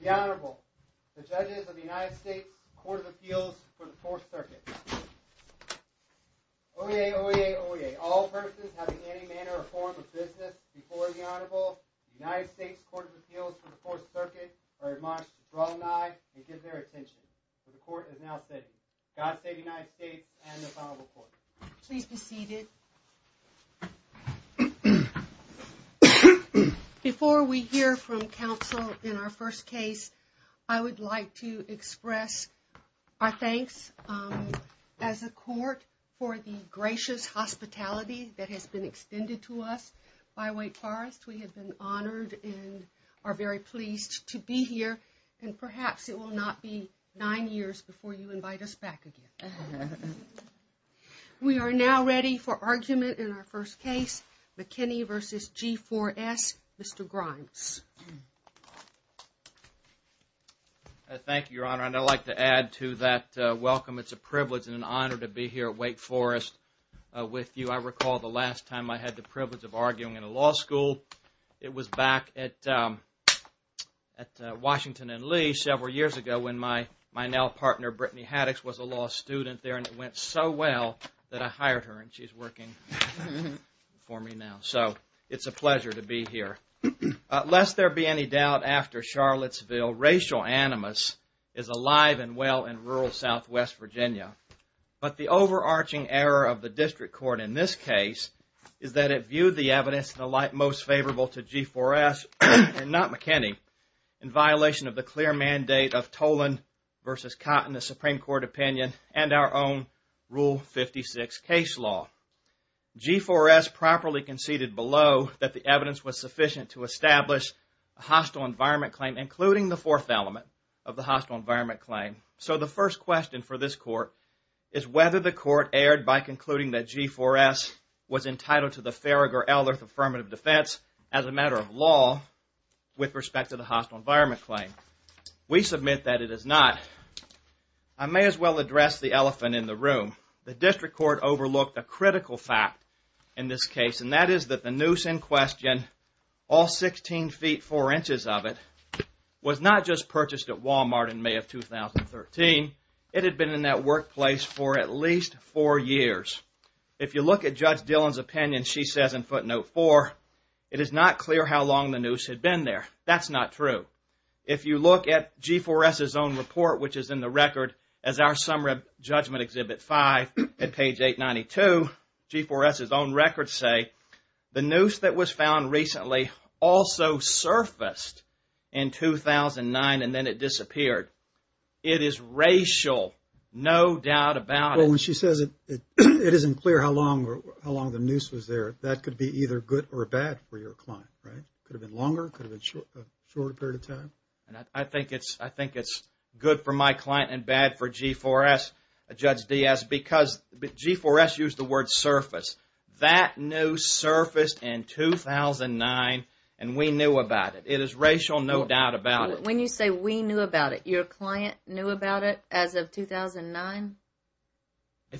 The Honorable, the Judges of the United States Courts of Appeals for the Fourth Circuit. Oyez, oyez, oyez. All persons having any manner or form of business before the Honorable, the United States Courts of Appeals for the Fourth Circuit, are admonished to draw an eye and give their attention. The Court is now sitting. God save the United States and the Honorable Court. Please be seated. Before we hear from counsel in our first case, I would like to express our thanks as a court for the gracious hospitality that has been extended to us by Wake Forest. We have been honored and are very pleased to be here, and perhaps it will not be nine years before you invite us back again. We are now ready for argument in our first case, McKinney v. G4S. Mr. Grimes. Thank you, Your Honor, and I'd like to add to that welcome. It's a privilege and an honor to be here at Wake Forest with you. I recall the last time I had the privilege of arguing in a law school. It was back at Washington and Lee several years ago when my now partner, Brittany Haddix, was a law student there. And it went so well that I hired her, and she's working for me now. So it's a pleasure to be here. Lest there be any doubt, after Charlottesville, racial animus is alive and well in rural southwest Virginia. But the overarching error of the district court in this case is that it viewed the evidence in the light most favorable to G4S, and not McKinney, in violation of the clear mandate of Tolan v. Cotton, the Supreme Court opinion, and our own Rule 56 case law. G4S properly conceded below that the evidence was sufficient to establish a hostile environment claim, including the fourth element of the hostile environment claim. So the first question for this court is whether the court erred by concluding that G4S was entitled to the Farragher-Elderth affirmative defense as a matter of law with respect to the hostile environment claim. We submit that it is not. I may as well address the elephant in the room. The district court overlooked a critical fact in this case, and that is that the noose in question, all 16 feet 4 inches of it, was not just purchased at Walmart in May of 2013. It had been in that workplace for at least 4 years. If you look at Judge Dillon's opinion, she says in footnote 4, it is not clear how long the noose had been there. That's not true. If you look at G4S's own report, which is in the record as our summary of Judgment Exhibit 5 at page 892, G4S's own records say the noose that was found recently also surfaced in 2009 and then it disappeared. It is racial, no doubt about it. When she says it isn't clear how long the noose was there, that could be either good or bad for your client, right? Could have been longer, could have been a shorter period of time? I think it's good for my client and bad for G4S, Judge Diaz, because G4S used the word surface. That noose surfaced in 2009 and we knew about it. It is racial, no doubt about it. When you say we knew about it, your client knew about it as of 2009?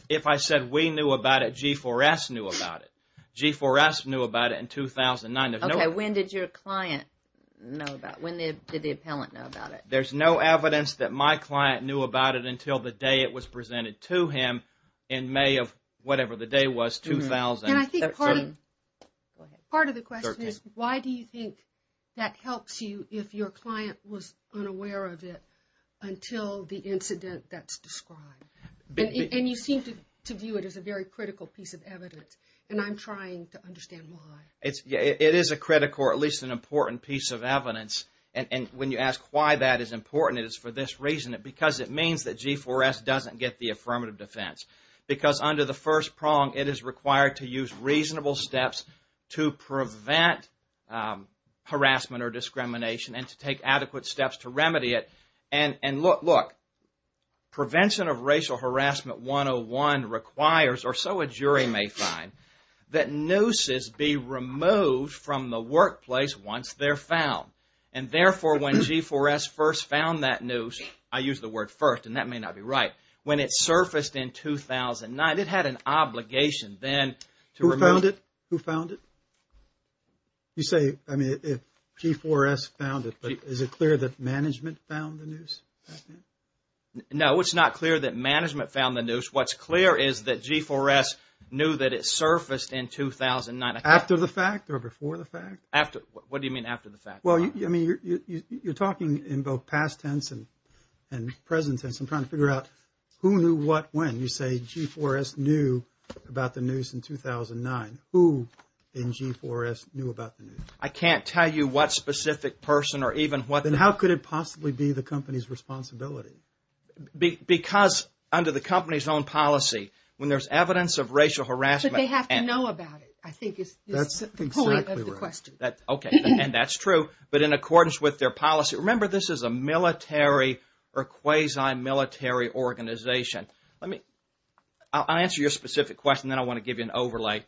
If I said we knew about it, G4S knew about it. G4S knew about it in 2009. Okay, when did your client know about it? When did the appellant know about it? There's no evidence that my client knew about it until the day it was presented to him in May of whatever the day was, 2013. Part of the question is why do you think that helps you if your client was unaware of it until the incident that's described? And you seem to view it as a very critical piece of evidence and I'm trying to understand why. It is a critical or at least an important piece of evidence and when you ask why that is important, it is for this reason. Because it means that G4S doesn't get the affirmative defense. Because under the first prong, it is required to use reasonable steps to prevent harassment or discrimination and to take adequate steps to remedy it. And look, prevention of racial harassment 101 requires, or so a jury may find, that nooses be removed from the workplace once they're found. And therefore, when G4S first found that noose, I use the word first and that may not be right, when it surfaced in 2009, it had an obligation then to remove it. Who found it? Who found it? You say, I mean, if G4S found it, but is it clear that management found the noose? No, it's not clear that management found the noose. What's clear is that G4S knew that it surfaced in 2009. After the fact or before the fact? After, what do you mean after the fact? Well, I mean, you're talking in both past tense and present tense. I'm trying to figure out who knew what when. You say G4S knew about the noose in 2009. Who in G4S knew about the noose? I can't tell you what specific person or even what... Then how could it possibly be the company's responsibility? Because under the company's own policy, when there's evidence of racial harassment... That's exactly right. Okay, and that's true. But in accordance with their policy, remember this is a military or quasi-military organization. Let me, I'll answer your specific question, then I want to give you an overlay.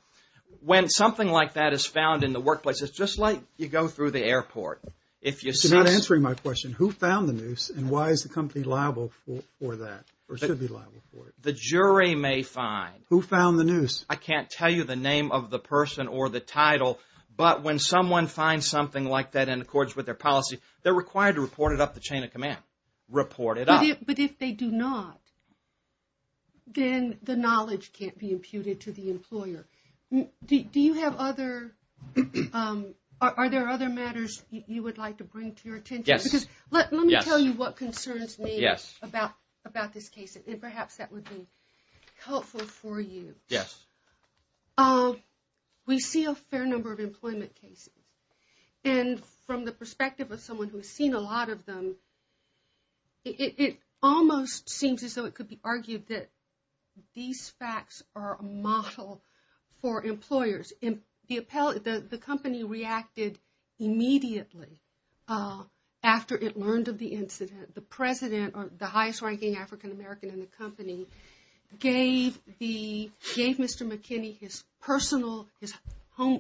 When something like that is found in the workplace, it's just like you go through the airport. If you see... You're not answering my question. Who found the noose and why is the company liable for that or should be liable for it? The jury may find... Who found the noose? I can't tell you the name of the person or the title. But when someone finds something like that in accordance with their policy, they're required to report it up the chain of command. Report it up. But if they do not, then the knowledge can't be imputed to the employer. Do you have other... Are there other matters you would like to bring to your attention? Yes. Let me tell you what concerns me about this case and perhaps that would be helpful for you. Yes. We see a fair number of employment cases. And from the perspective of someone who has seen a lot of them, it almost seems as though it could be argued that these facts are a model for employers. The company reacted immediately after it learned of the incident. The president or the highest ranking African American in the company gave Mr. McKinney his personal...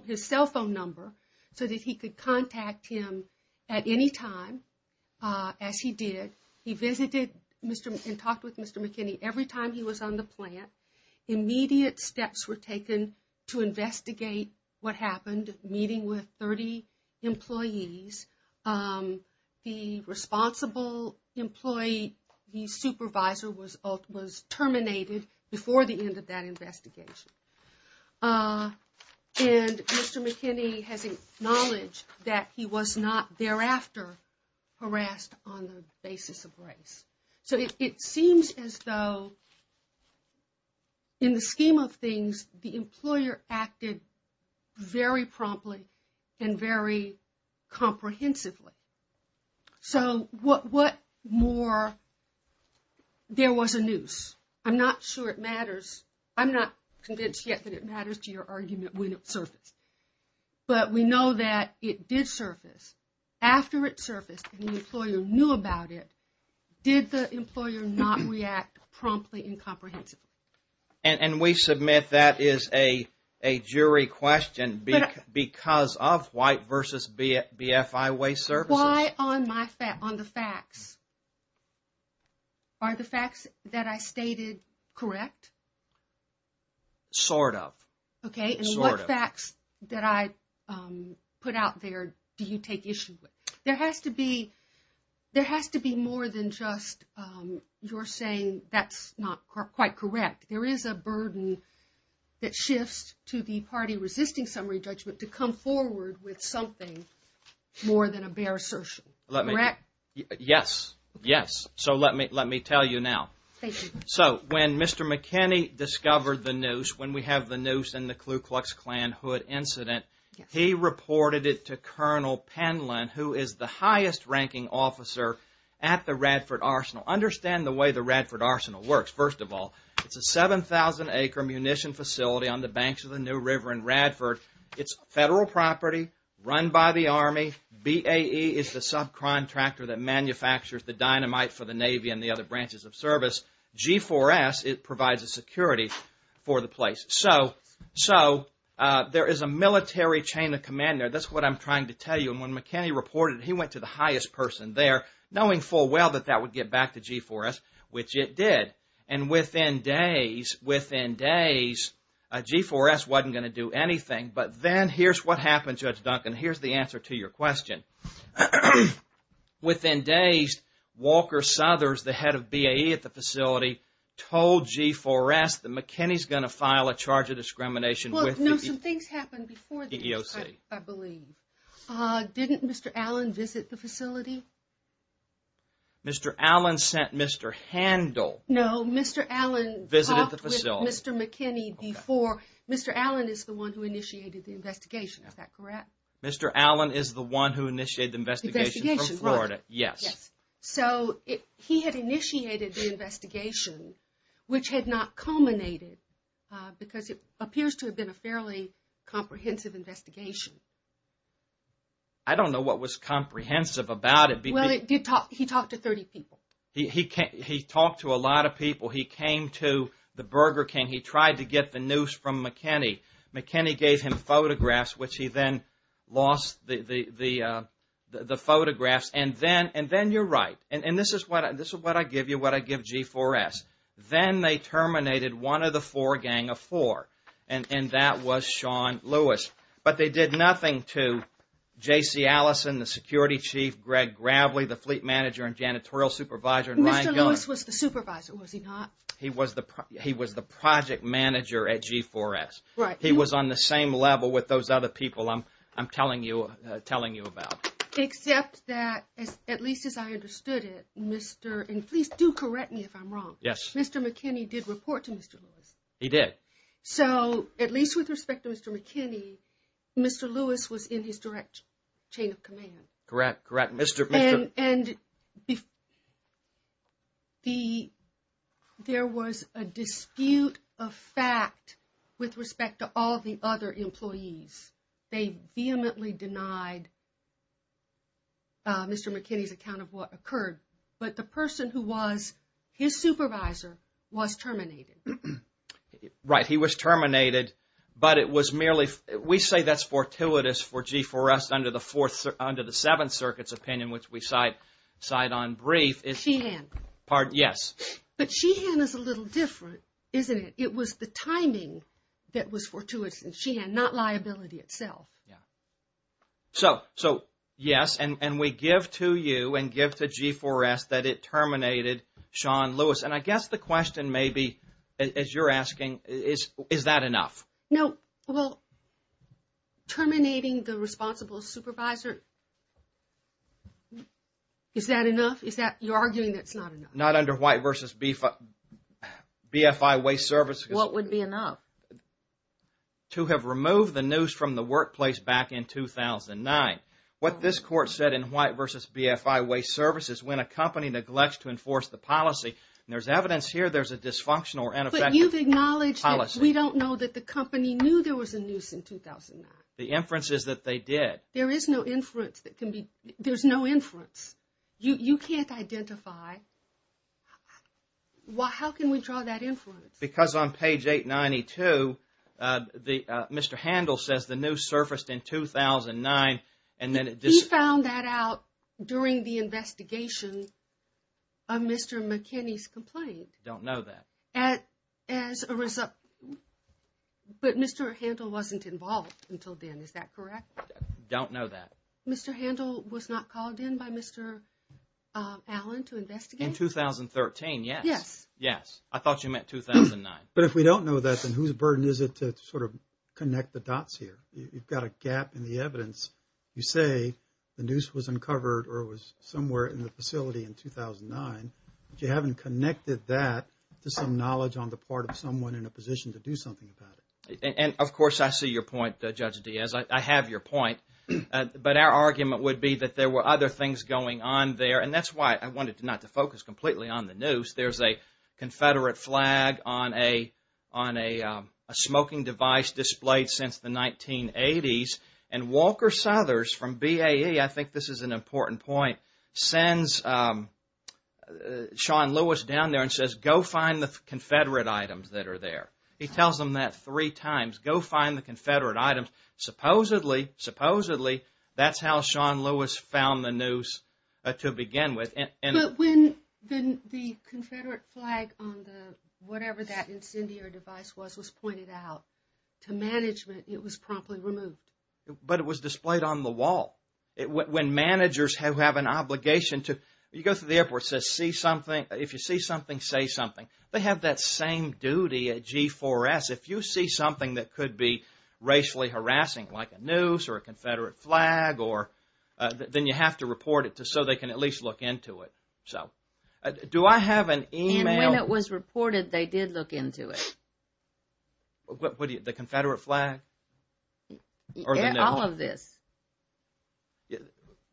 His cell phone number so that he could contact him at any time as he did. He visited and talked with Mr. McKinney every time he was on the plant. Immediate steps were taken to investigate what happened, meeting with 30 employees. The responsible employee, the supervisor was terminated before the end of that investigation. And Mr. McKinney has acknowledged that he was not thereafter harassed on the basis of race. So, it seems as though in the scheme of things, the employer acted very promptly and very comprehensively. So, what more? There was a noose. I'm not sure it matters. I'm not convinced yet that it matters to your argument when it surfaced. But we know that it did surface. After it surfaced and the employer knew about it, did the employer not react promptly and comprehensively? And we submit that is a jury question because of white versus BFI way services. Why on the facts? Are the facts that I stated correct? Sort of. Okay, and what facts that I put out there do you take issue with? There has to be more than just you're saying that's not quite correct. There is a burden that shifts to the party resisting summary judgment to come forward with something more than a bare assertion. Correct? Yes. Yes. So, let me tell you now. Thank you. So, when Mr. McKinney discovered the noose, when we have the noose in the Ku Klux Klan hood incident, he reported it to Colonel Penland, who is the highest ranking officer at the Radford Arsenal. Understand the way the Radford Arsenal works. First of all, it's a 7,000-acre munition facility on the banks of the New River in Radford. It's federal property run by the Army. BAE is the subcontractor that manufactures the dynamite for the Navy and the other branches of service. G4S, it provides a security for the place. So, there is a military chain of command there. That's what I'm trying to tell you. And when McKinney reported it, he went to the highest person there, knowing full well that that would get back to G4S, which it did. And within days, G4S wasn't going to do anything. But then here's what happened, Judge Duncan. Here's the answer to your question. Within days, Walker Southers, the head of BAE at the facility, told G4S that McKinney's going to file a charge of discrimination with the EEOC. Well, no, some things happened before the EEOC, I believe. Didn't Mr. Allen visit the facility? Mr. Allen sent Mr. Handel. No, Mr. Allen talked with Mr. McKinney before. Mr. Allen is the one who initiated the investigation. Is that correct? Mr. Allen is the one who initiated the investigation from Florida. Yes. So, he had initiated the investigation, which had not culminated, because it appears to have been a fairly comprehensive investigation. I don't know what was comprehensive about it. Well, he talked to 30 people. He talked to a lot of people. He came to the Burger King. He tried to get the news from McKinney. McKinney gave him photographs, which he then lost the photographs. And then you're right. And this is what I give you, what I give G4S. Then they terminated one of the four, a gang of four, and that was Sean Lewis. But they did nothing to J.C. Allison, the security chief, Greg Gravely, the fleet manager and janitorial supervisor, and Ryan Gunn. Mr. Lewis was the supervisor, was he not? He was the project manager at G4S. He was on the same level with those other people I'm telling you about. Except that, at least as I understood it, Mr. and please do correct me if I'm wrong. Yes. Mr. McKinney did report to Mr. Lewis. He did. So, at least with respect to Mr. McKinney, Mr. Lewis was in his direct chain of command. Correct, correct. And there was a dispute of fact with respect to all the other employees. They vehemently denied Mr. McKinney's account of what occurred. But the person who was his supervisor was terminated. Right. He was terminated. We say that's fortuitous for G4S under the Seventh Circuit's opinion, which we cite on brief. Sheehan. Yes. But Sheehan is a little different, isn't it? It was the timing that was fortuitous in Sheehan, not liability itself. So, yes. And we give to you and give to G4S that it terminated Sean Lewis. And I guess the question may be, as you're asking, is that enough? No. Well, terminating the responsible supervisor, is that enough? You're arguing that's not enough. Not under White v. BFI Waste Services. What would be enough? To have removed the noose from the workplace back in 2009. What this court said in White v. BFI Waste Services, when a company neglects to enforce the policy. And there's evidence here there's a dysfunctional or ineffective policy. But you've acknowledged that we don't know that the company knew there was a noose in 2009. The inference is that they did. There is no inference that can be, there's no inference. You can't identify. How can we draw that inference? Because on page 892, Mr. Handel says the noose surfaced in 2009. He found that out during the investigation of Mr. McKinney's complaint. Don't know that. But Mr. Handel wasn't involved until then, is that correct? Don't know that. Mr. Handel was not called in by Mr. Allen to investigate? In 2013, yes. Yes. Yes. I thought you meant 2009. But if we don't know that, then whose burden is it to sort of connect the dots here? You've got a gap in the evidence. You say the noose was uncovered or was somewhere in the facility in 2009. But you haven't connected that to some knowledge on the part of someone in a position to do something about it. And of course, I see your point, Judge Diaz. I have your point. But our argument would be that there were other things going on there. And that's why I wanted not to focus completely on the noose. There's a Confederate flag on a smoking device displayed since the 1980s. And Walker Southers from BAE, I think this is an important point, sends Sean Lewis down there and says, Go find the Confederate items that are there. He tells them that three times. Go find the Confederate items. Supposedly, that's how Sean Lewis found the noose to begin with. But when the Confederate flag on the whatever that incendiary device was was pointed out to management, it was promptly removed. But it was displayed on the wall. When managers have an obligation to, you go to the airport and it says, If you see something, say something. They have that same duty at G4S. If you see something that could be racially harassing like a noose or a Confederate flag, then you have to report it so they can at least look into it. Do I have an email? And when it was reported, they did look into it. The Confederate flag? All of this.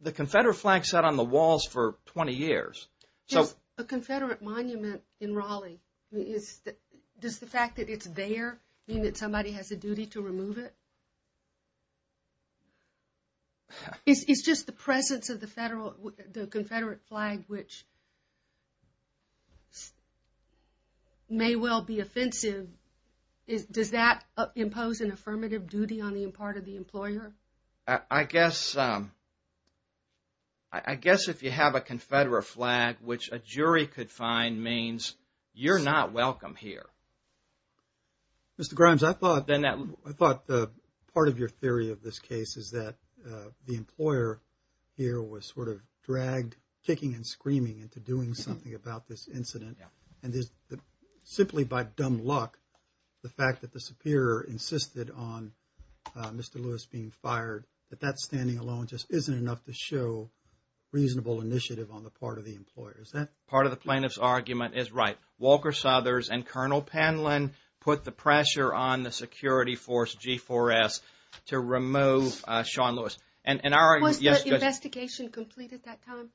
The Confederate flag sat on the walls for 20 years. A Confederate monument in Raleigh, does the fact that it's there mean that somebody has a duty to remove it? It's just the presence of the Confederate flag, which may well be offensive. Does that impose an affirmative duty on the part of the employer? I guess if you have a Confederate flag, which a jury could find, means you're not welcome here. Mr. Grimes, I thought part of your theory of this case is that the employer here was sort of dragged, kicking and screaming into doing something about this incident. And simply by dumb luck, the fact that the superior insisted on Mr. Lewis being fired, that that standing alone just isn't enough to show reasonable initiative on the part of the employer. Part of the plaintiff's argument is right. Walker Southers and Colonel Panlin put the pressure on the security force, G4S, to remove Sean Lewis. Was the investigation complete at that time?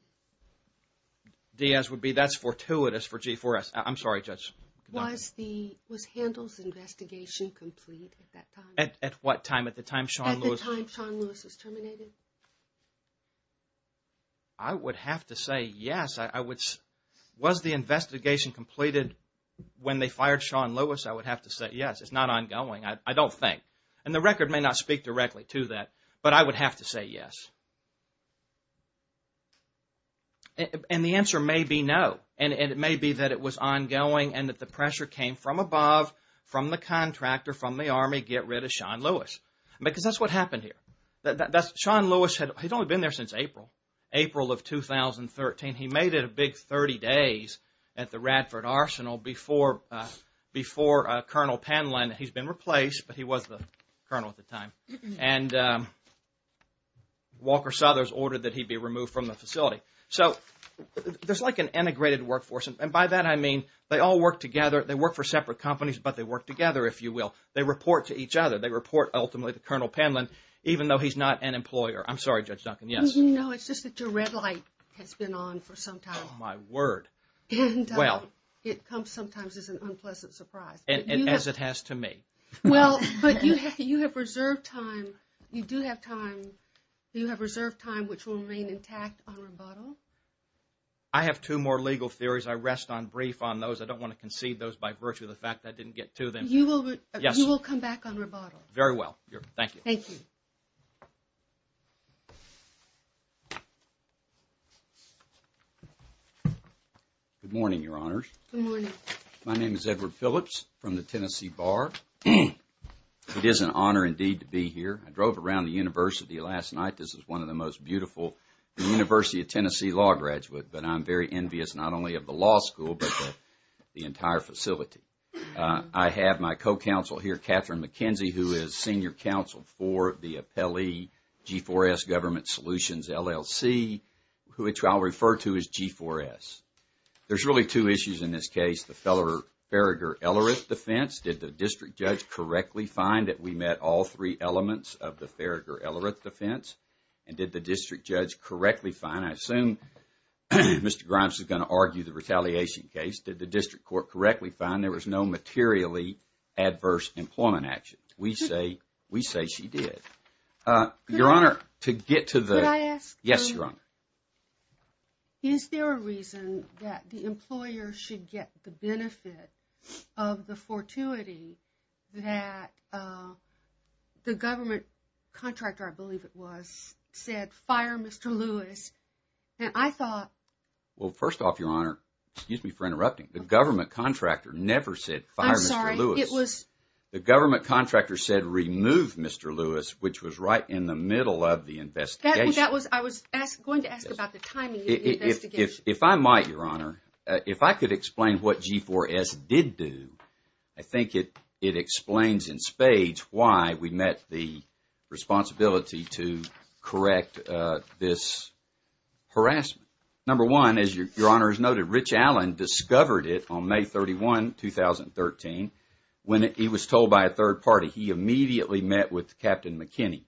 Diaz would be, that's fortuitous for G4S. I'm sorry, Judge. Was Handel's investigation complete at that time? At what time? At the time Sean Lewis was terminated? I would have to say yes. Was the investigation completed when they fired Sean Lewis? I would have to say yes. It's not ongoing. I don't think. And the record may not speak directly to that, but I would have to say yes. And the answer may be no. And it may be that it was ongoing and that the pressure came from above, from the contractor, from the Army, get rid of Sean Lewis. Because that's what happened here. Sean Lewis, he's only been there since April, April of 2013. He made it a big 30 days at the Radford Arsenal before Colonel Panlin. He's been replaced, but he was the colonel at the time. And Walker Southers ordered that he be removed from the facility. So there's like an integrated workforce. And by that I mean they all work together. They work for separate companies, but they work together, if you will. They report to each other. They report ultimately to Colonel Panlin, even though he's not an employer. I'm sorry, Judge Duncan. Yes? No, it's just that your red light has been on for some time. My word. And it comes sometimes as an unpleasant surprise. As it has to me. Well, but you have reserved time. You do have time. You have reserved time, which will remain intact on rebuttal. I have two more legal theories. I rest on brief on those. I don't want to concede those by virtue of the fact that I didn't get to them. You will come back on rebuttal. Very well. Thank you. Thank you. Good morning, Your Honors. Good morning. My name is Edward Phillips from the Tennessee Bar. It is an honor indeed to be here. I drove around the university last night. This is one of the most beautiful University of Tennessee law graduates. But I'm very envious not only of the law school, but the entire facility. I have my co-counsel here, Catherine McKenzie, who is senior counsel for the appellee G4S Government Solutions LLC, which I'll refer to as G4S. There's really two issues in this case. The Farragher-Ellerith defense. Did the district judge correctly find that we met all three elements of the Farragher-Ellerith defense? And did the district judge correctly find, I assume Mr. Grimes is going to argue the retaliation case, did the district court correctly find there was no materially adverse employment action? We say she did. Your Honor, to get to the... Could I ask? Yes, Your Honor. Is there a reason that the employer should get the benefit of the fortuity that the government contractor, I believe it was, said, fire Mr. Lewis? And I thought... Well, first off, Your Honor, excuse me for interrupting, the government contractor never said fire Mr. Lewis. I'm sorry, it was... The government contractor said remove Mr. Lewis, which was right in the middle of the investigation. I was going to ask about the timing of the investigation. If I might, Your Honor, if I could explain what G4S did do, I think it explains in spades why we met the responsibility to correct this harassment. Number one, as Your Honor has noted, Rich Allen discovered it on May 31, 2013, when he was told by a third party he immediately met with Captain McKinney.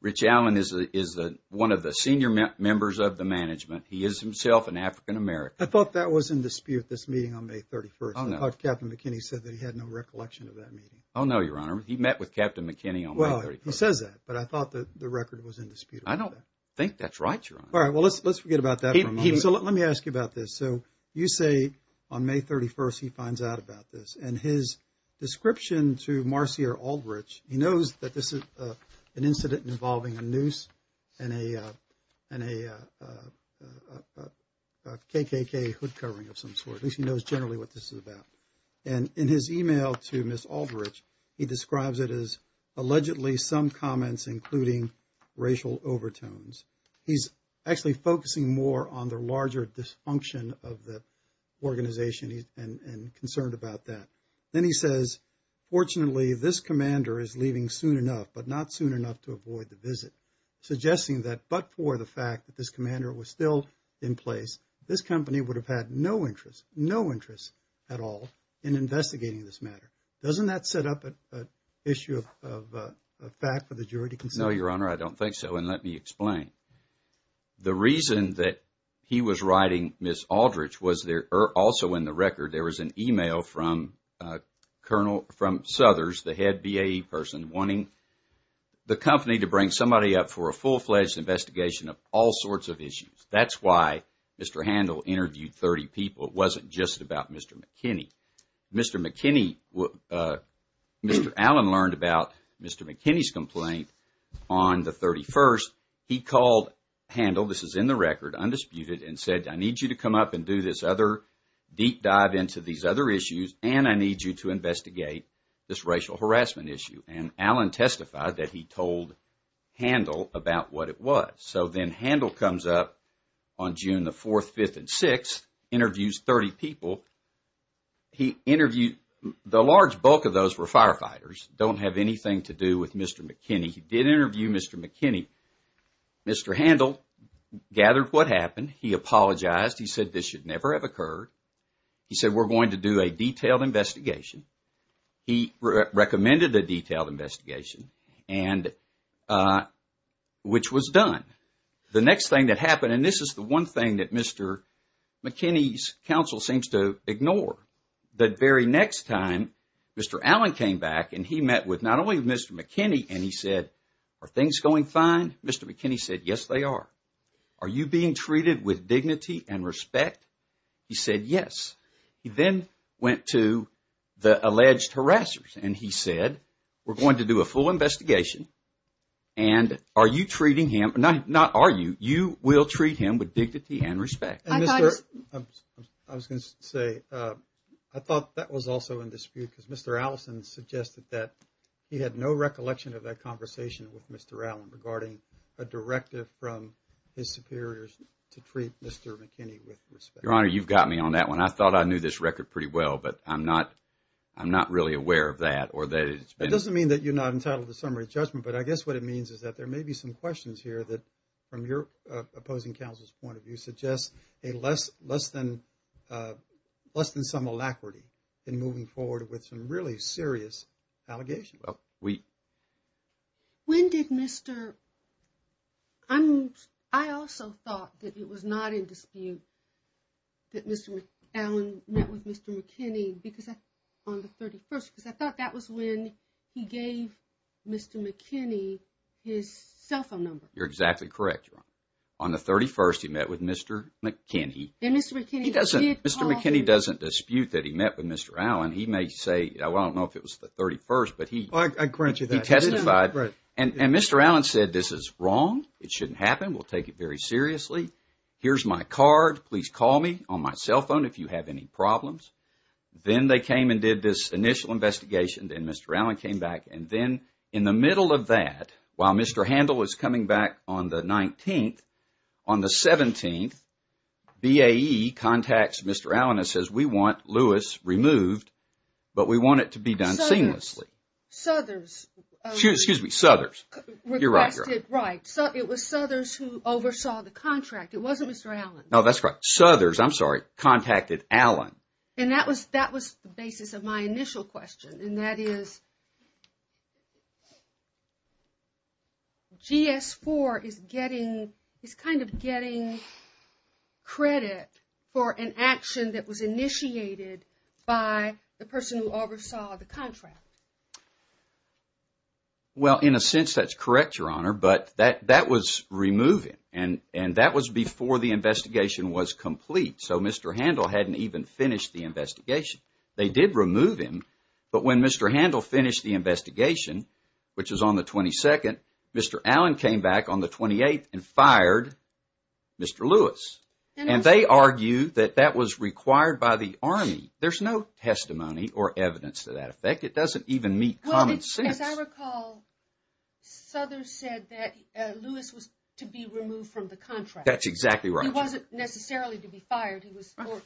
Rich Allen is one of the senior members of the management. He is himself an African-American. I thought that was in dispute, this meeting on May 31st. I don't know. I thought Captain McKinney said that he had no recollection of that meeting. I don't know, Your Honor. He met with Captain McKinney on May 31st. Well, he says that, but I thought the record was in dispute. I don't think that's right, Your Honor. All right. Well, let's forget about that for a moment. So let me ask you about this. So you say on May 31st he finds out about this, and his description to Marcia Aldrich, he knows that this is an incident involving a noose and a KKK hood covering of some sort. At least he knows generally what this is about. And in his email to Ms. Aldrich, he describes it as allegedly some comments including racial overtones. He's actually focusing more on the larger dysfunction of the organization and concerned about that. Then he says, fortunately, this commander is leaving soon enough, but not soon enough to avoid the visit, suggesting that but for the fact that this commander was still in place, this company would have had no interest, no interest at all in investigating this matter. Doesn't that set up an issue of fact for the jury to consider? No, Your Honor, I don't think so. And let me explain. The reason that he was writing Ms. Aldrich was also in the record, there was an email from Southers, the head BAE person, wanting the company to bring somebody up for a full-fledged investigation of all sorts of issues. That's why Mr. Handel interviewed 30 people. It wasn't just about Mr. McKinney. Mr. McKinney, Mr. Allen learned about Mr. McKinney's complaint on the 31st. He called Handel, this is in the record, undisputed, and said, I need you to come up and do this other deep dive into these other issues, and I need you to investigate this racial harassment issue. And Allen testified that he told Handel about what it was. So then Handel comes up on June the 4th, 5th, and 6th, interviews 30 people. He interviewed, the large bulk of those were firefighters, don't have anything to do with Mr. McKinney. He did interview Mr. McKinney. Mr. Handel gathered what happened. He apologized. He said, this should never have occurred. He said, we're going to do a detailed investigation. He recommended a detailed investigation, which was done. The next thing that happened, and this is the one thing that Mr. McKinney's counsel seems to ignore, the very next time Mr. Allen came back, and he met with not only Mr. McKinney, and he said, are things going fine? Mr. McKinney said, yes, they are. Are you being treated with dignity and respect? He said, yes. He then went to the alleged harassers, and he said, we're going to do a full investigation, and are you treating him, not are you, you will treat him with dignity and respect. I was going to say, I thought that was also in dispute, because Mr. Allison suggested that he had no recollection of that conversation with Mr. Allen regarding a directive from his superiors to treat Mr. McKinney with respect. Your Honor, you've got me on that one. I thought I knew this record pretty well, but I'm not really aware of that. It doesn't mean that you're not entitled to summary judgment, but I guess what it means is that there may be some questions here that, from your opposing counsel's point of view, suggest less than some alacrity in moving forward with some really serious allegations. Well, we... When did Mr... I also thought that it was not in dispute that Mr. Allen met with Mr. McKinney on the 31st, because I thought that was when he gave Mr. McKinney his cell phone number. You're exactly correct, Your Honor. On the 31st, he met with Mr. McKinney. And Mr. McKinney... He doesn't... Mr. McKinney doesn't dispute that he met with Mr. Allen. He may say, I don't know if it was the 31st, but he... I grant you that. He testified. And Mr. Allen said, this is wrong. It shouldn't happen. We'll take it very seriously. Here's my card. Please call me on my cell phone if you have any problems. Then they came and did this initial investigation, and Mr. Allen came back, and then in the middle of that, while Mr. Handel is coming back on the 19th, on the 17th, BAE contacts Mr. Allen and says, we want Lewis removed, but we want it to be done seamlessly. Suthers. Suthers. Excuse me, Suthers. You're right, Your Honor. Right. It was Suthers who oversaw the contract. It wasn't Mr. Allen. No, that's right. Suthers, I'm sorry, contacted Allen. And that was the basis of my initial question, and that is, GS4 is getting, is kind of getting credit for an action that was initiated by the person who oversaw the contract. Well, in a sense, that's correct, Your Honor, but that was removing, and that was before the investigation was complete, so Mr. Handel hadn't even finished the investigation. They did remove him, but when Mr. Handel finished the investigation, which was on the 22nd, Mr. Allen came back on the 28th and fired Mr. Lewis. And they argue that that was required by the Army. There's no testimony or evidence to that effect. It doesn't even meet common sense. Well, as I recall, Suthers said that Lewis was to be removed from the contract. That's exactly right. He wasn't necessarily to be fired.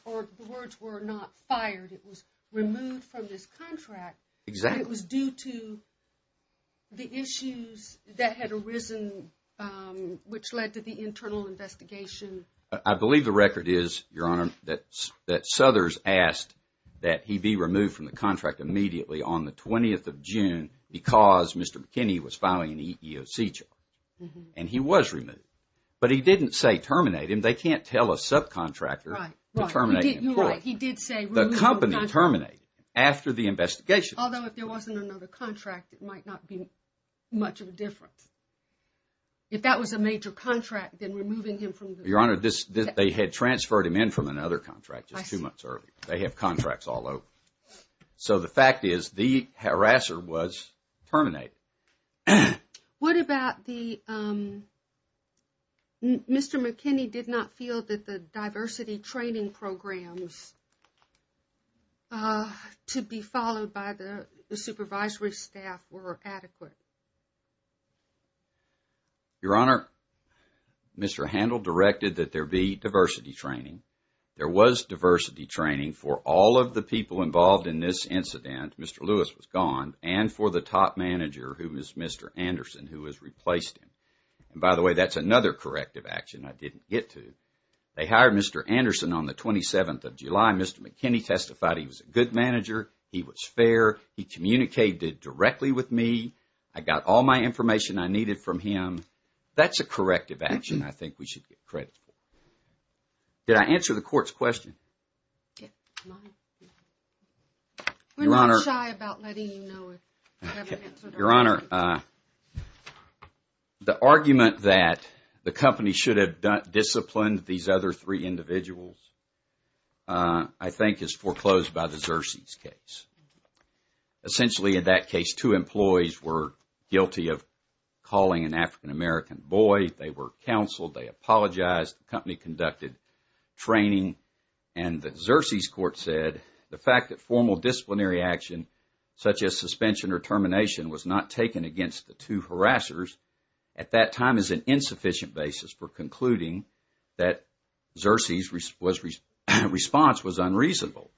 Or the words were not fired. It was removed from this contract. Exactly. It was due to the issues that had arisen, which led to the internal investigation. I believe the record is, Your Honor, that Suthers asked that he be removed from the contract immediately on the 20th of June because Mr. McKinney was filing an EEOC charge. And he was removed, but he didn't say terminate him. And they can't tell a subcontractor to terminate an employee. The company terminated him after the investigation. Although if there wasn't another contract, it might not be much of a difference. If that was a major contract, then removing him from the contract... Your Honor, they had transferred him in from another contract just two months earlier. They have contracts all over. So the fact is the harasser was terminated. What about the... Mr. McKinney did not feel that the diversity training programs to be followed by the supervisory staff were adequate. Your Honor, Mr. Handel directed that there be diversity training. There was diversity training for all of the people involved in this incident. Mr. Lewis was gone. And for the top manager, who was Mr. Anderson, who has replaced him. By the way, that's another corrective action I didn't get to. They hired Mr. Anderson on the 27th of July. Mr. McKinney testified he was a good manager. He was fair. He communicated directly with me. I got all my information I needed from him. That's a corrective action I think we should get credit for. Did I answer the court's question? We're not shy about letting you know if you haven't answered our question. The argument that the company should have disciplined these other three individuals I think is foreclosed by the Xerces case. Essentially, in that case, two employees were guilty of calling an African-American boy. They were counseled. They apologized. The company conducted training. And the Xerces court said the fact that formal disciplinary action such as suspension or termination was not taken against the two harassers at that time is an insufficient basis for concluding that Xerces' response was unreasonable.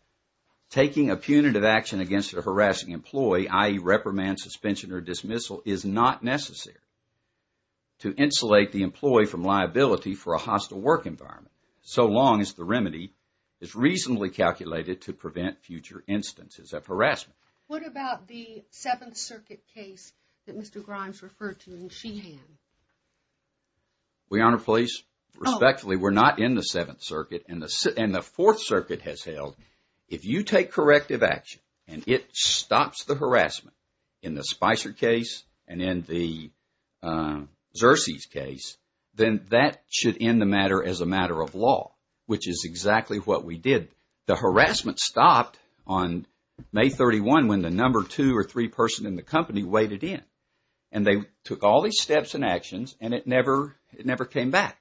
Taking a punitive action against a harassing employee, i.e., reprimand, suspension, or dismissal, is not necessary to insulate the employee from liability for a hostile work environment so long as the remedy is reasonably calculated to prevent future instances of harassment. What about the Seventh Circuit case that Mr. Grimes referred to in Sheehan? We honor police. Respectfully, we're not in the Seventh Circuit. And the Fourth Circuit has held if you take corrective action and it stops the harassment in the Spicer case and in the Xerces case, then that should end the matter as a matter of law, which is exactly what we did. The harassment stopped on May 31 when the number two or three person in the company waited in. And they took all these steps and actions and it never came back.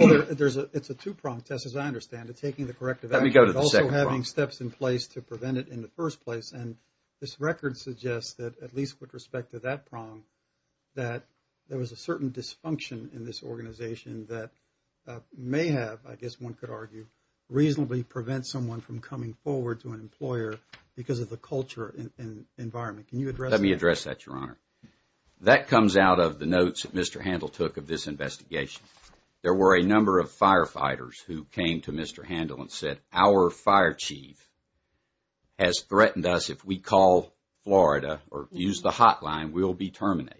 It's a two-pronged test, as I understand it, taking the corrective action but also having steps in place to prevent it in the first place. And this record suggests that at least with respect to that prong that there was a certain dysfunction in this organization that may have, I guess one could argue, reasonably prevent someone from coming forward to an employer because of the culture and environment. Let me address that, Your Honor. That comes out of the notes that Mr. Handel took of this investigation. There were a number of firefighters who came to Mr. Handel and said, our fire chief has threatened us. If we call Florida or use the hotline, we'll be terminated.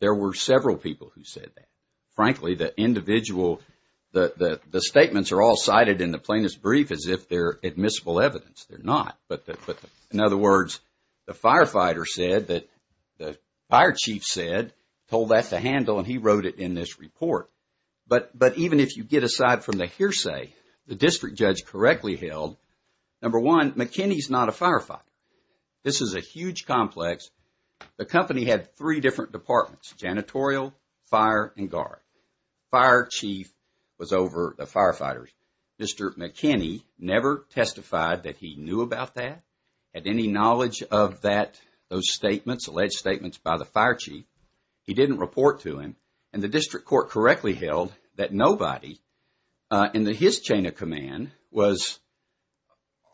There were several people who said that. Frankly, the individual, the statements are all cited in the plaintiff's brief as if they're admissible evidence. They're not. But in other words, the firefighter said that, the fire chief said, told that to Handel and he wrote it in this report. But even if you get aside from the hearsay, the district judge correctly held, number one, McKinney's not a firefighter. This is a huge complex. The company had three different departments, janitorial, fire, and guard. Fire chief was over the firefighters. Mr. McKinney never testified that he knew about that, had any knowledge of that, those statements, alleged statements by the fire chief. He didn't report to him. And the district court correctly held that nobody in his chain of command was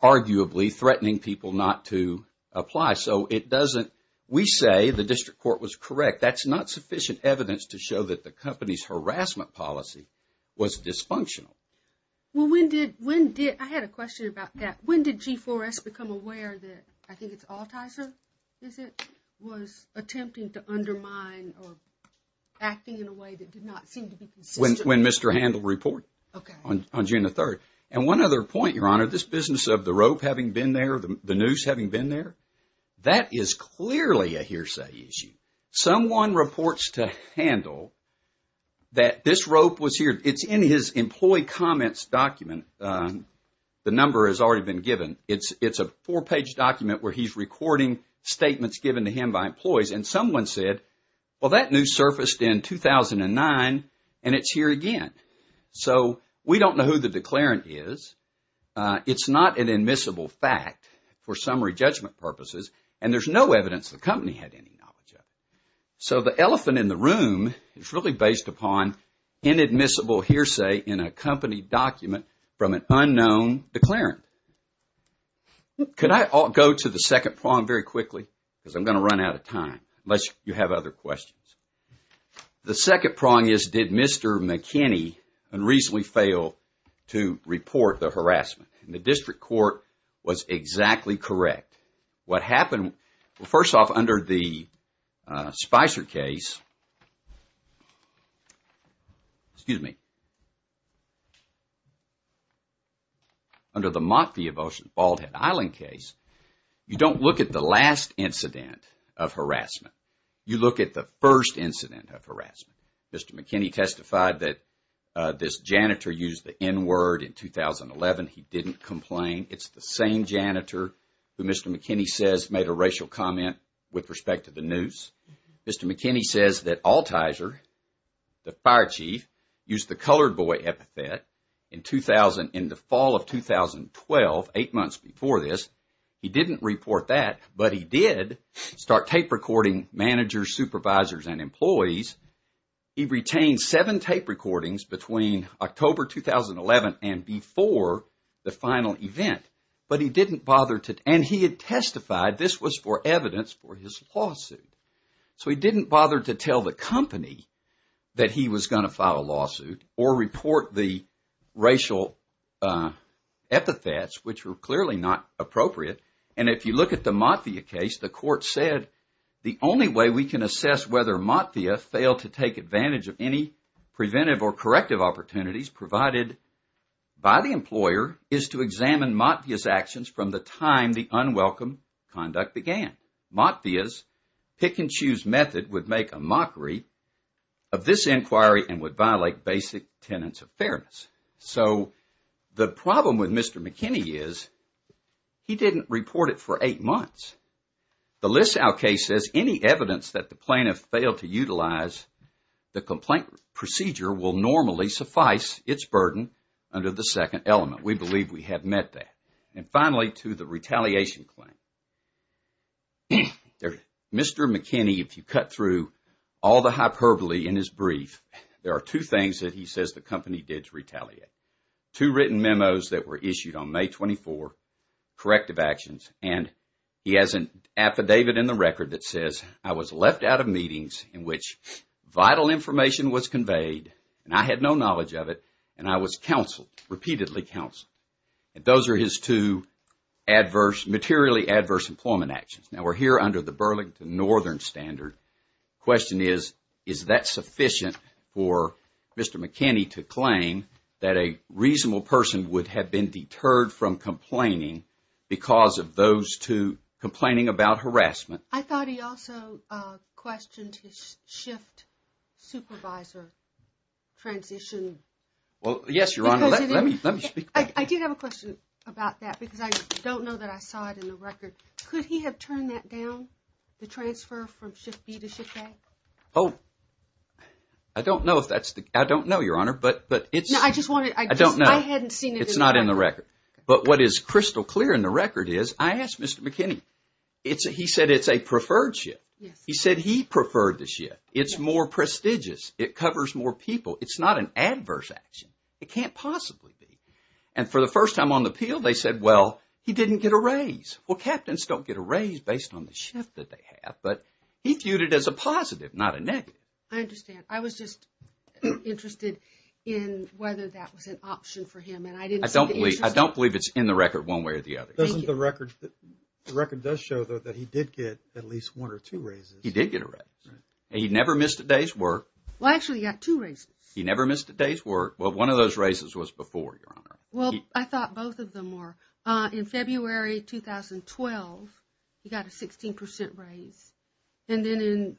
arguably threatening people not to apply. So it doesn't, we say the district court was correct. That's not sufficient evidence to show that the company's harassment policy was dysfunctional. Well, when did, when did, I had a question about that. When did G4S become aware that, I think it's Altizer, is it, was attempting to undermine or acting in a way that did not seem to be consistent? When Mr. Handel reported. Okay. On June the 3rd. And one other point, Your Honor, this business of the rope having been there, the noose having been there, that is clearly a hearsay issue. Someone reports to Handel that this rope was here. It's in his employee comments document. The number has already been given. It's a four-page document where he's recording statements given to him by employees. And someone said, well, that noose surfaced in 2009 and it's here again. So we don't know who the declarant is. It's not an admissible fact for summary judgment purposes. And there's no evidence the company had any knowledge of it. So the elephant in the room is really based upon inadmissible hearsay in a company document from an unknown declarant. Could I go to the second prong very quickly? Because I'm going to run out of time, unless you have other questions. The second prong is, did Mr. McKinney unreasonably fail to report the harassment? And the district court was exactly correct. What happened, well, first off, under the Spicer case, excuse me, under the Mott v. Ocean Baldhead Island case, you don't look at the last incident of harassment. You look at the first incident of harassment. Mr. McKinney testified that this janitor used the N-word in 2011. He didn't complain. It's the same janitor who Mr. McKinney says made a racial comment with respect to the noose. Mr. McKinney says that Altizer, the fire chief, used the colored boy epithet in the fall of 2012, eight months before this. He didn't report that, but he did start tape recording managers, supervisors, and employees. He retained seven tape recordings between October 2011 and before the final event. But he didn't bother to, and he had testified this was for evidence for his lawsuit. So he didn't bother to tell the company that he was going to file a lawsuit or report the racial epithets, which were clearly not appropriate. And if you look at the Mott v. Ocean Baldhead Island case, the court said the only way we can assess whether Mott via failed to take advantage of any preventive or corrective opportunities provided by the employer is to examine Mott via's actions from the time the unwelcome conduct began. Mott via's pick-and-choose method would make a mockery of this inquiry and would violate basic tenets of fairness. So the problem with Mr. McKinney is he didn't report it for eight months. The Lisow case says any evidence that the plaintiff failed to utilize, the complaint procedure will normally suffice its burden under the second element. We believe we have met that. And finally, to the retaliation claim. Mr. McKinney, if you cut through all the hyperbole in his brief, there are two things that he says the company did to retaliate. Two written memos that were issued on May 24, corrective actions, and he has an affidavit in the record that says, I was left out of meetings in which vital information was conveyed and I had no knowledge of it and I was counseled, repeatedly counseled. And those are his two adverse, materially adverse employment actions. Now we're here under the Burlington Northern Standard. The question is, is that sufficient for Mr. McKinney to claim that a reasonable person would have been deterred from complaining because of those two complaining about harassment? I thought he also questioned his shift supervisor transition. Well, yes, Your Honor. Let me speak to that. I did have a question about that because I don't know that I saw it in the record. Could he have turned that down, the transfer from shift B to shift A? Oh, I don't know if that's the, I don't know, Your Honor. But it's, I don't know. I hadn't seen it in the record. It's not in the record. But what is crystal clear in the record is, I asked Mr. McKinney. He said it's a preferred shift. He said he preferred the shift. It's more prestigious. It covers more people. It's not an adverse action. It can't possibly be. And for the first time on the appeal, they said, well, he didn't get a raise. Well, captains don't get a raise based on the shift that they have. But he viewed it as a positive, not a negative. I understand. I was just interested in whether that was an option for him. I don't believe it's in the record one way or the other. The record does show, though, that he did get at least one or two raises. He did get a raise. And he never missed a day's work. Well, actually, he got two raises. He never missed a day's work. Well, one of those raises was before, Your Honor. Well, I thought both of them were. In February 2012, he got a 16% raise. And then in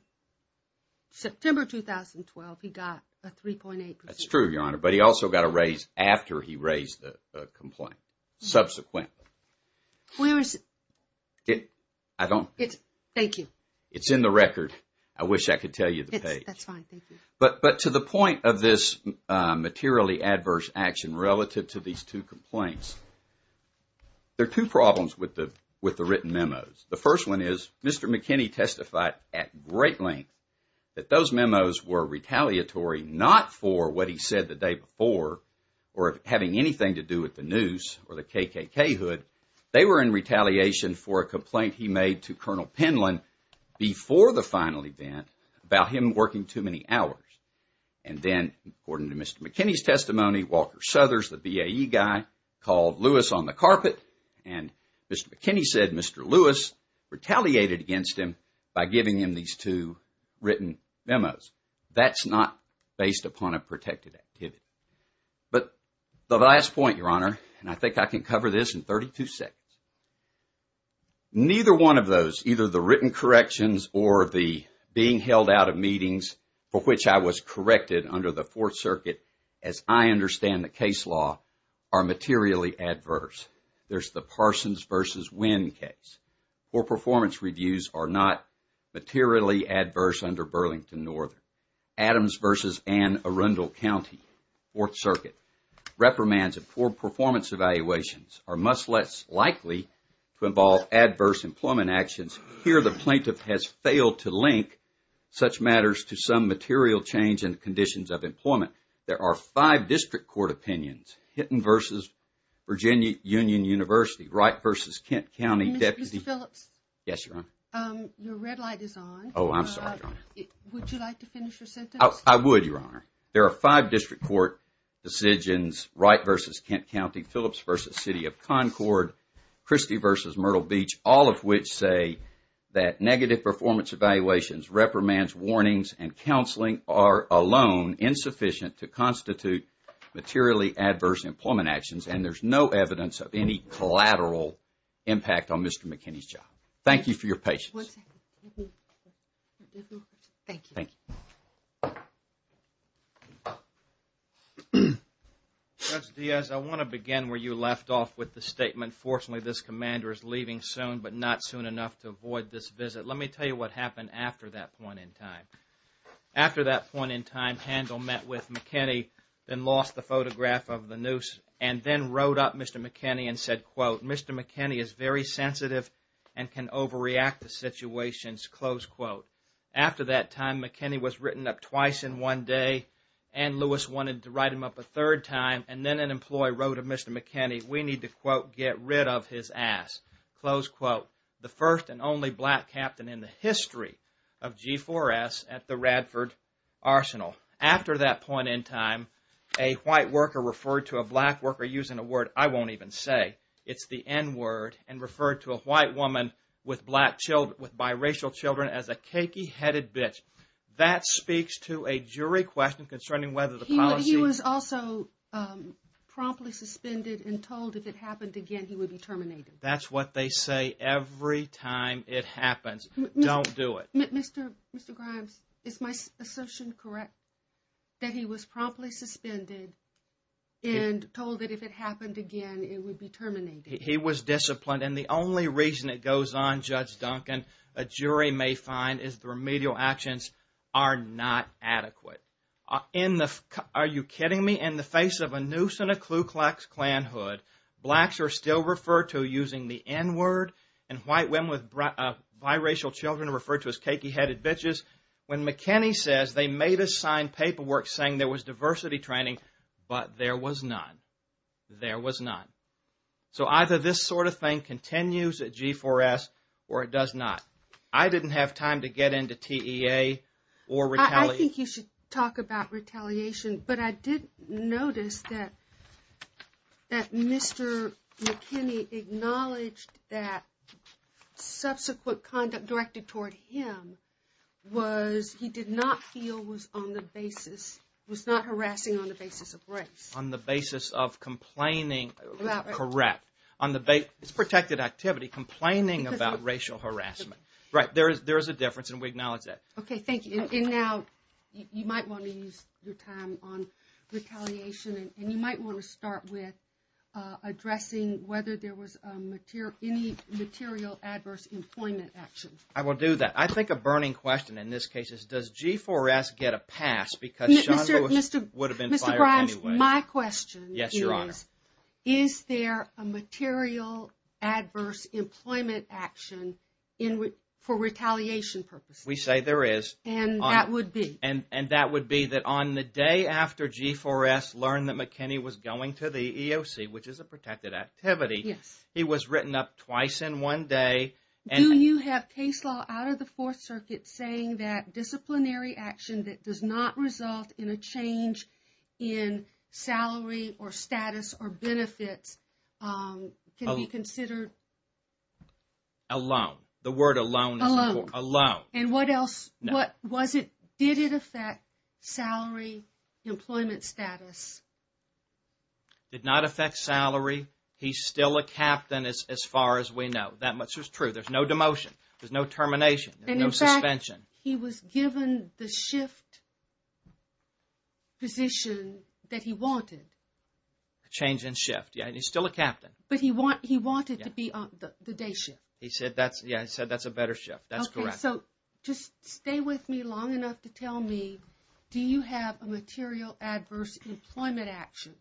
September 2012, he got a 3.8%. That's true, Your Honor. But he also got a raise after he raised the complaint. Subsequent. Where is it? I don't. Thank you. It's in the record. I wish I could tell you the page. That's fine. Thank you. But to the point of this materially adverse action relative to these two complaints, there are two problems with the written memos. The first one is Mr. McKinney testified at great length that those memos were retaliatory not for what he said the day before or having anything to do with the news or the KKK hood. They were in retaliation for a complaint he made to Colonel Penland before the final event about him working too many hours. And then, according to Mr. McKinney's testimony, Walker Southers, the BAE guy, called Lewis on the carpet and Mr. McKinney said Mr. Lewis retaliated against him by giving him these two written memos. That's not based upon a protected activity. But the last point, Your Honor, and I think I can cover this in 32 seconds. Neither one of those, either the written corrections or the being held out of meetings for which I was corrected under the Fourth Circuit, as I understand the case law, are materially adverse. There's the Parsons v. Winn case. Poor performance reviews are not materially adverse under Burlington Northern. Adams v. Ann Arundel County, Fourth Circuit. Reprimands of poor performance evaluations are much less likely to involve adverse employment actions. Here, the plaintiff has failed to link such matters to some material change in conditions of employment. There are five district court opinions. Hinton v. Virginia Union University, Wright v. Kent County. Mr. Phillips? Yes, Your Honor. Your red light is on. Oh, I'm sorry, Your Honor. Would you like to finish your sentence? I would, Your Honor. There are five district court decisions, Wright v. Kent County, Phillips v. City of Concord, Christie v. Myrtle Beach, all of which say that negative performance evaluations, reprimands, warnings, and counseling are alone insufficient to constitute materially adverse employment actions, and there's no evidence of any collateral impact on Mr. McKinney's job. Thank you for your patience. One second. Thank you. Thank you. Judge Diaz, I want to begin where you left off with the statement, fortunately this commander is leaving soon, but not soon enough to avoid this visit. Let me tell you what happened after that point in time. After that point in time, Handel met with McKinney, then lost the photograph of the noose, and then wrote up Mr. McKinney and said, quote, Mr. McKinney is very sensitive and can overreact to situations, close quote. After that time, McKinney was written up twice in one day, Ann Lewis wanted to write him up a third time, and then an employee wrote of Mr. McKinney, we need to, quote, get rid of his ass, close quote. The first and only black captain in the history of G4S at the Radford Arsenal. After that point in time, a white worker referred to a black worker using a word I won't even say, it's the N word, and referred to a white woman with black children, with biracial children, as a cakey-headed bitch. That speaks to a jury question concerning whether the policy... He was also promptly suspended and told if it happened again, he would be terminated. That's what they say every time it happens. Don't do it. Mr. Grimes, is my assumption correct that he was promptly suspended and told that if it happened again, it would be terminated? He was disciplined. And the only reason it goes on, Judge Duncan, a jury may find is the remedial actions are not adequate. Are you kidding me? In the face of a noose and a Ku Klux Klan hood, blacks are still referred to using the N word, and white women with biracial children are referred to as cakey-headed bitches. When McKinney says they made a signed paperwork saying there was diversity training, but there was none. There was none. So either this sort of thing continues at G4S or it does not. I didn't have time to get into TEA or retaliation. I think you should talk about retaliation, but I did notice that Mr. McKinney acknowledged that subsequent conduct directed toward him was he did not feel was on the basis, was not harassing on the basis of race. On the basis of complaining, correct. It's protected activity, complaining about racial harassment. Right, there is a difference and we acknowledge that. Okay, thank you. And now you might want to use your time on retaliation and you might want to start with addressing whether there was any material adverse employment actions. I will do that. I think a burning question in this case is does G4S get a pass because Sean Bush would have been fired anyway. Mr. Grimes, my question is, is there a material adverse employment action for retaliation purposes? We say there is. And that would be? And that would be that on the day after G4S learned that McKinney was going to the EOC, which is a protected activity, he was written up twice in one day. Do you have case law out of the Fourth Circuit saying that disciplinary action that does not result in a change in salary or status or benefits can be considered? Alone. The word alone is important. Alone. Alone. And what else? Did it affect salary, employment status? Did not affect salary. He's still a captain as far as we know. That much is true. There's no demotion. There's no termination. There's no suspension. And in fact, he was given the shift position that he wanted. A change in shift. Yeah, and he's still a captain. But he wanted to be on the day shift. Yeah, he said that's a better shift. That's correct. Okay, so just stay with me long enough to tell me, do you have a material adverse employment action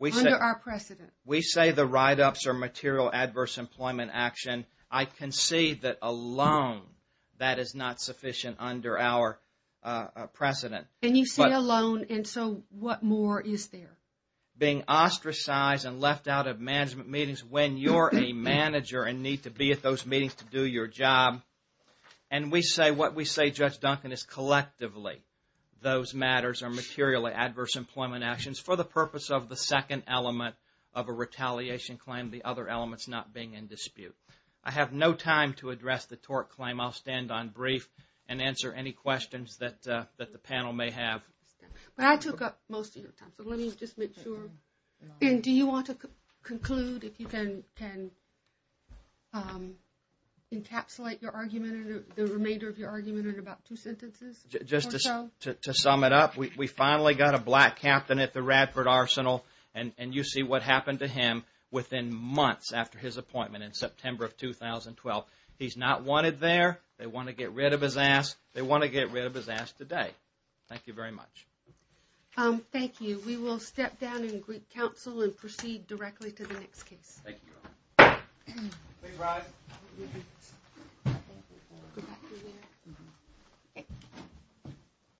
under our precedent? We say the write-ups are material adverse employment action. I can see that alone, that is not sufficient under our precedent. And you say alone, and so what more is there? Being ostracized and left out of management meetings when you're a manager and need to be at those meetings to do your job. And we say, what we say, Judge Duncan, is collectively those matters are materially adverse employment actions for the purpose of the second element of a retaliation claim, the other elements not being in dispute. I have no time to address the tort claim. I'll stand on brief and answer any questions that the panel may have. But I took up most of your time, so let me just make sure. And do you want to conclude if you can encapsulate your argument or the remainder of your argument in about two sentences or so? Just to sum it up, we finally got a black captain at the Radford Arsenal, and you see what happened to him within months after his appointment in September of 2012. He's not wanted there. They want to get rid of his ass. They want to get rid of his ass today. Thank you very much. Thank you. We will step down in Greek Council and proceed directly to the next case. Thank you. Please rise.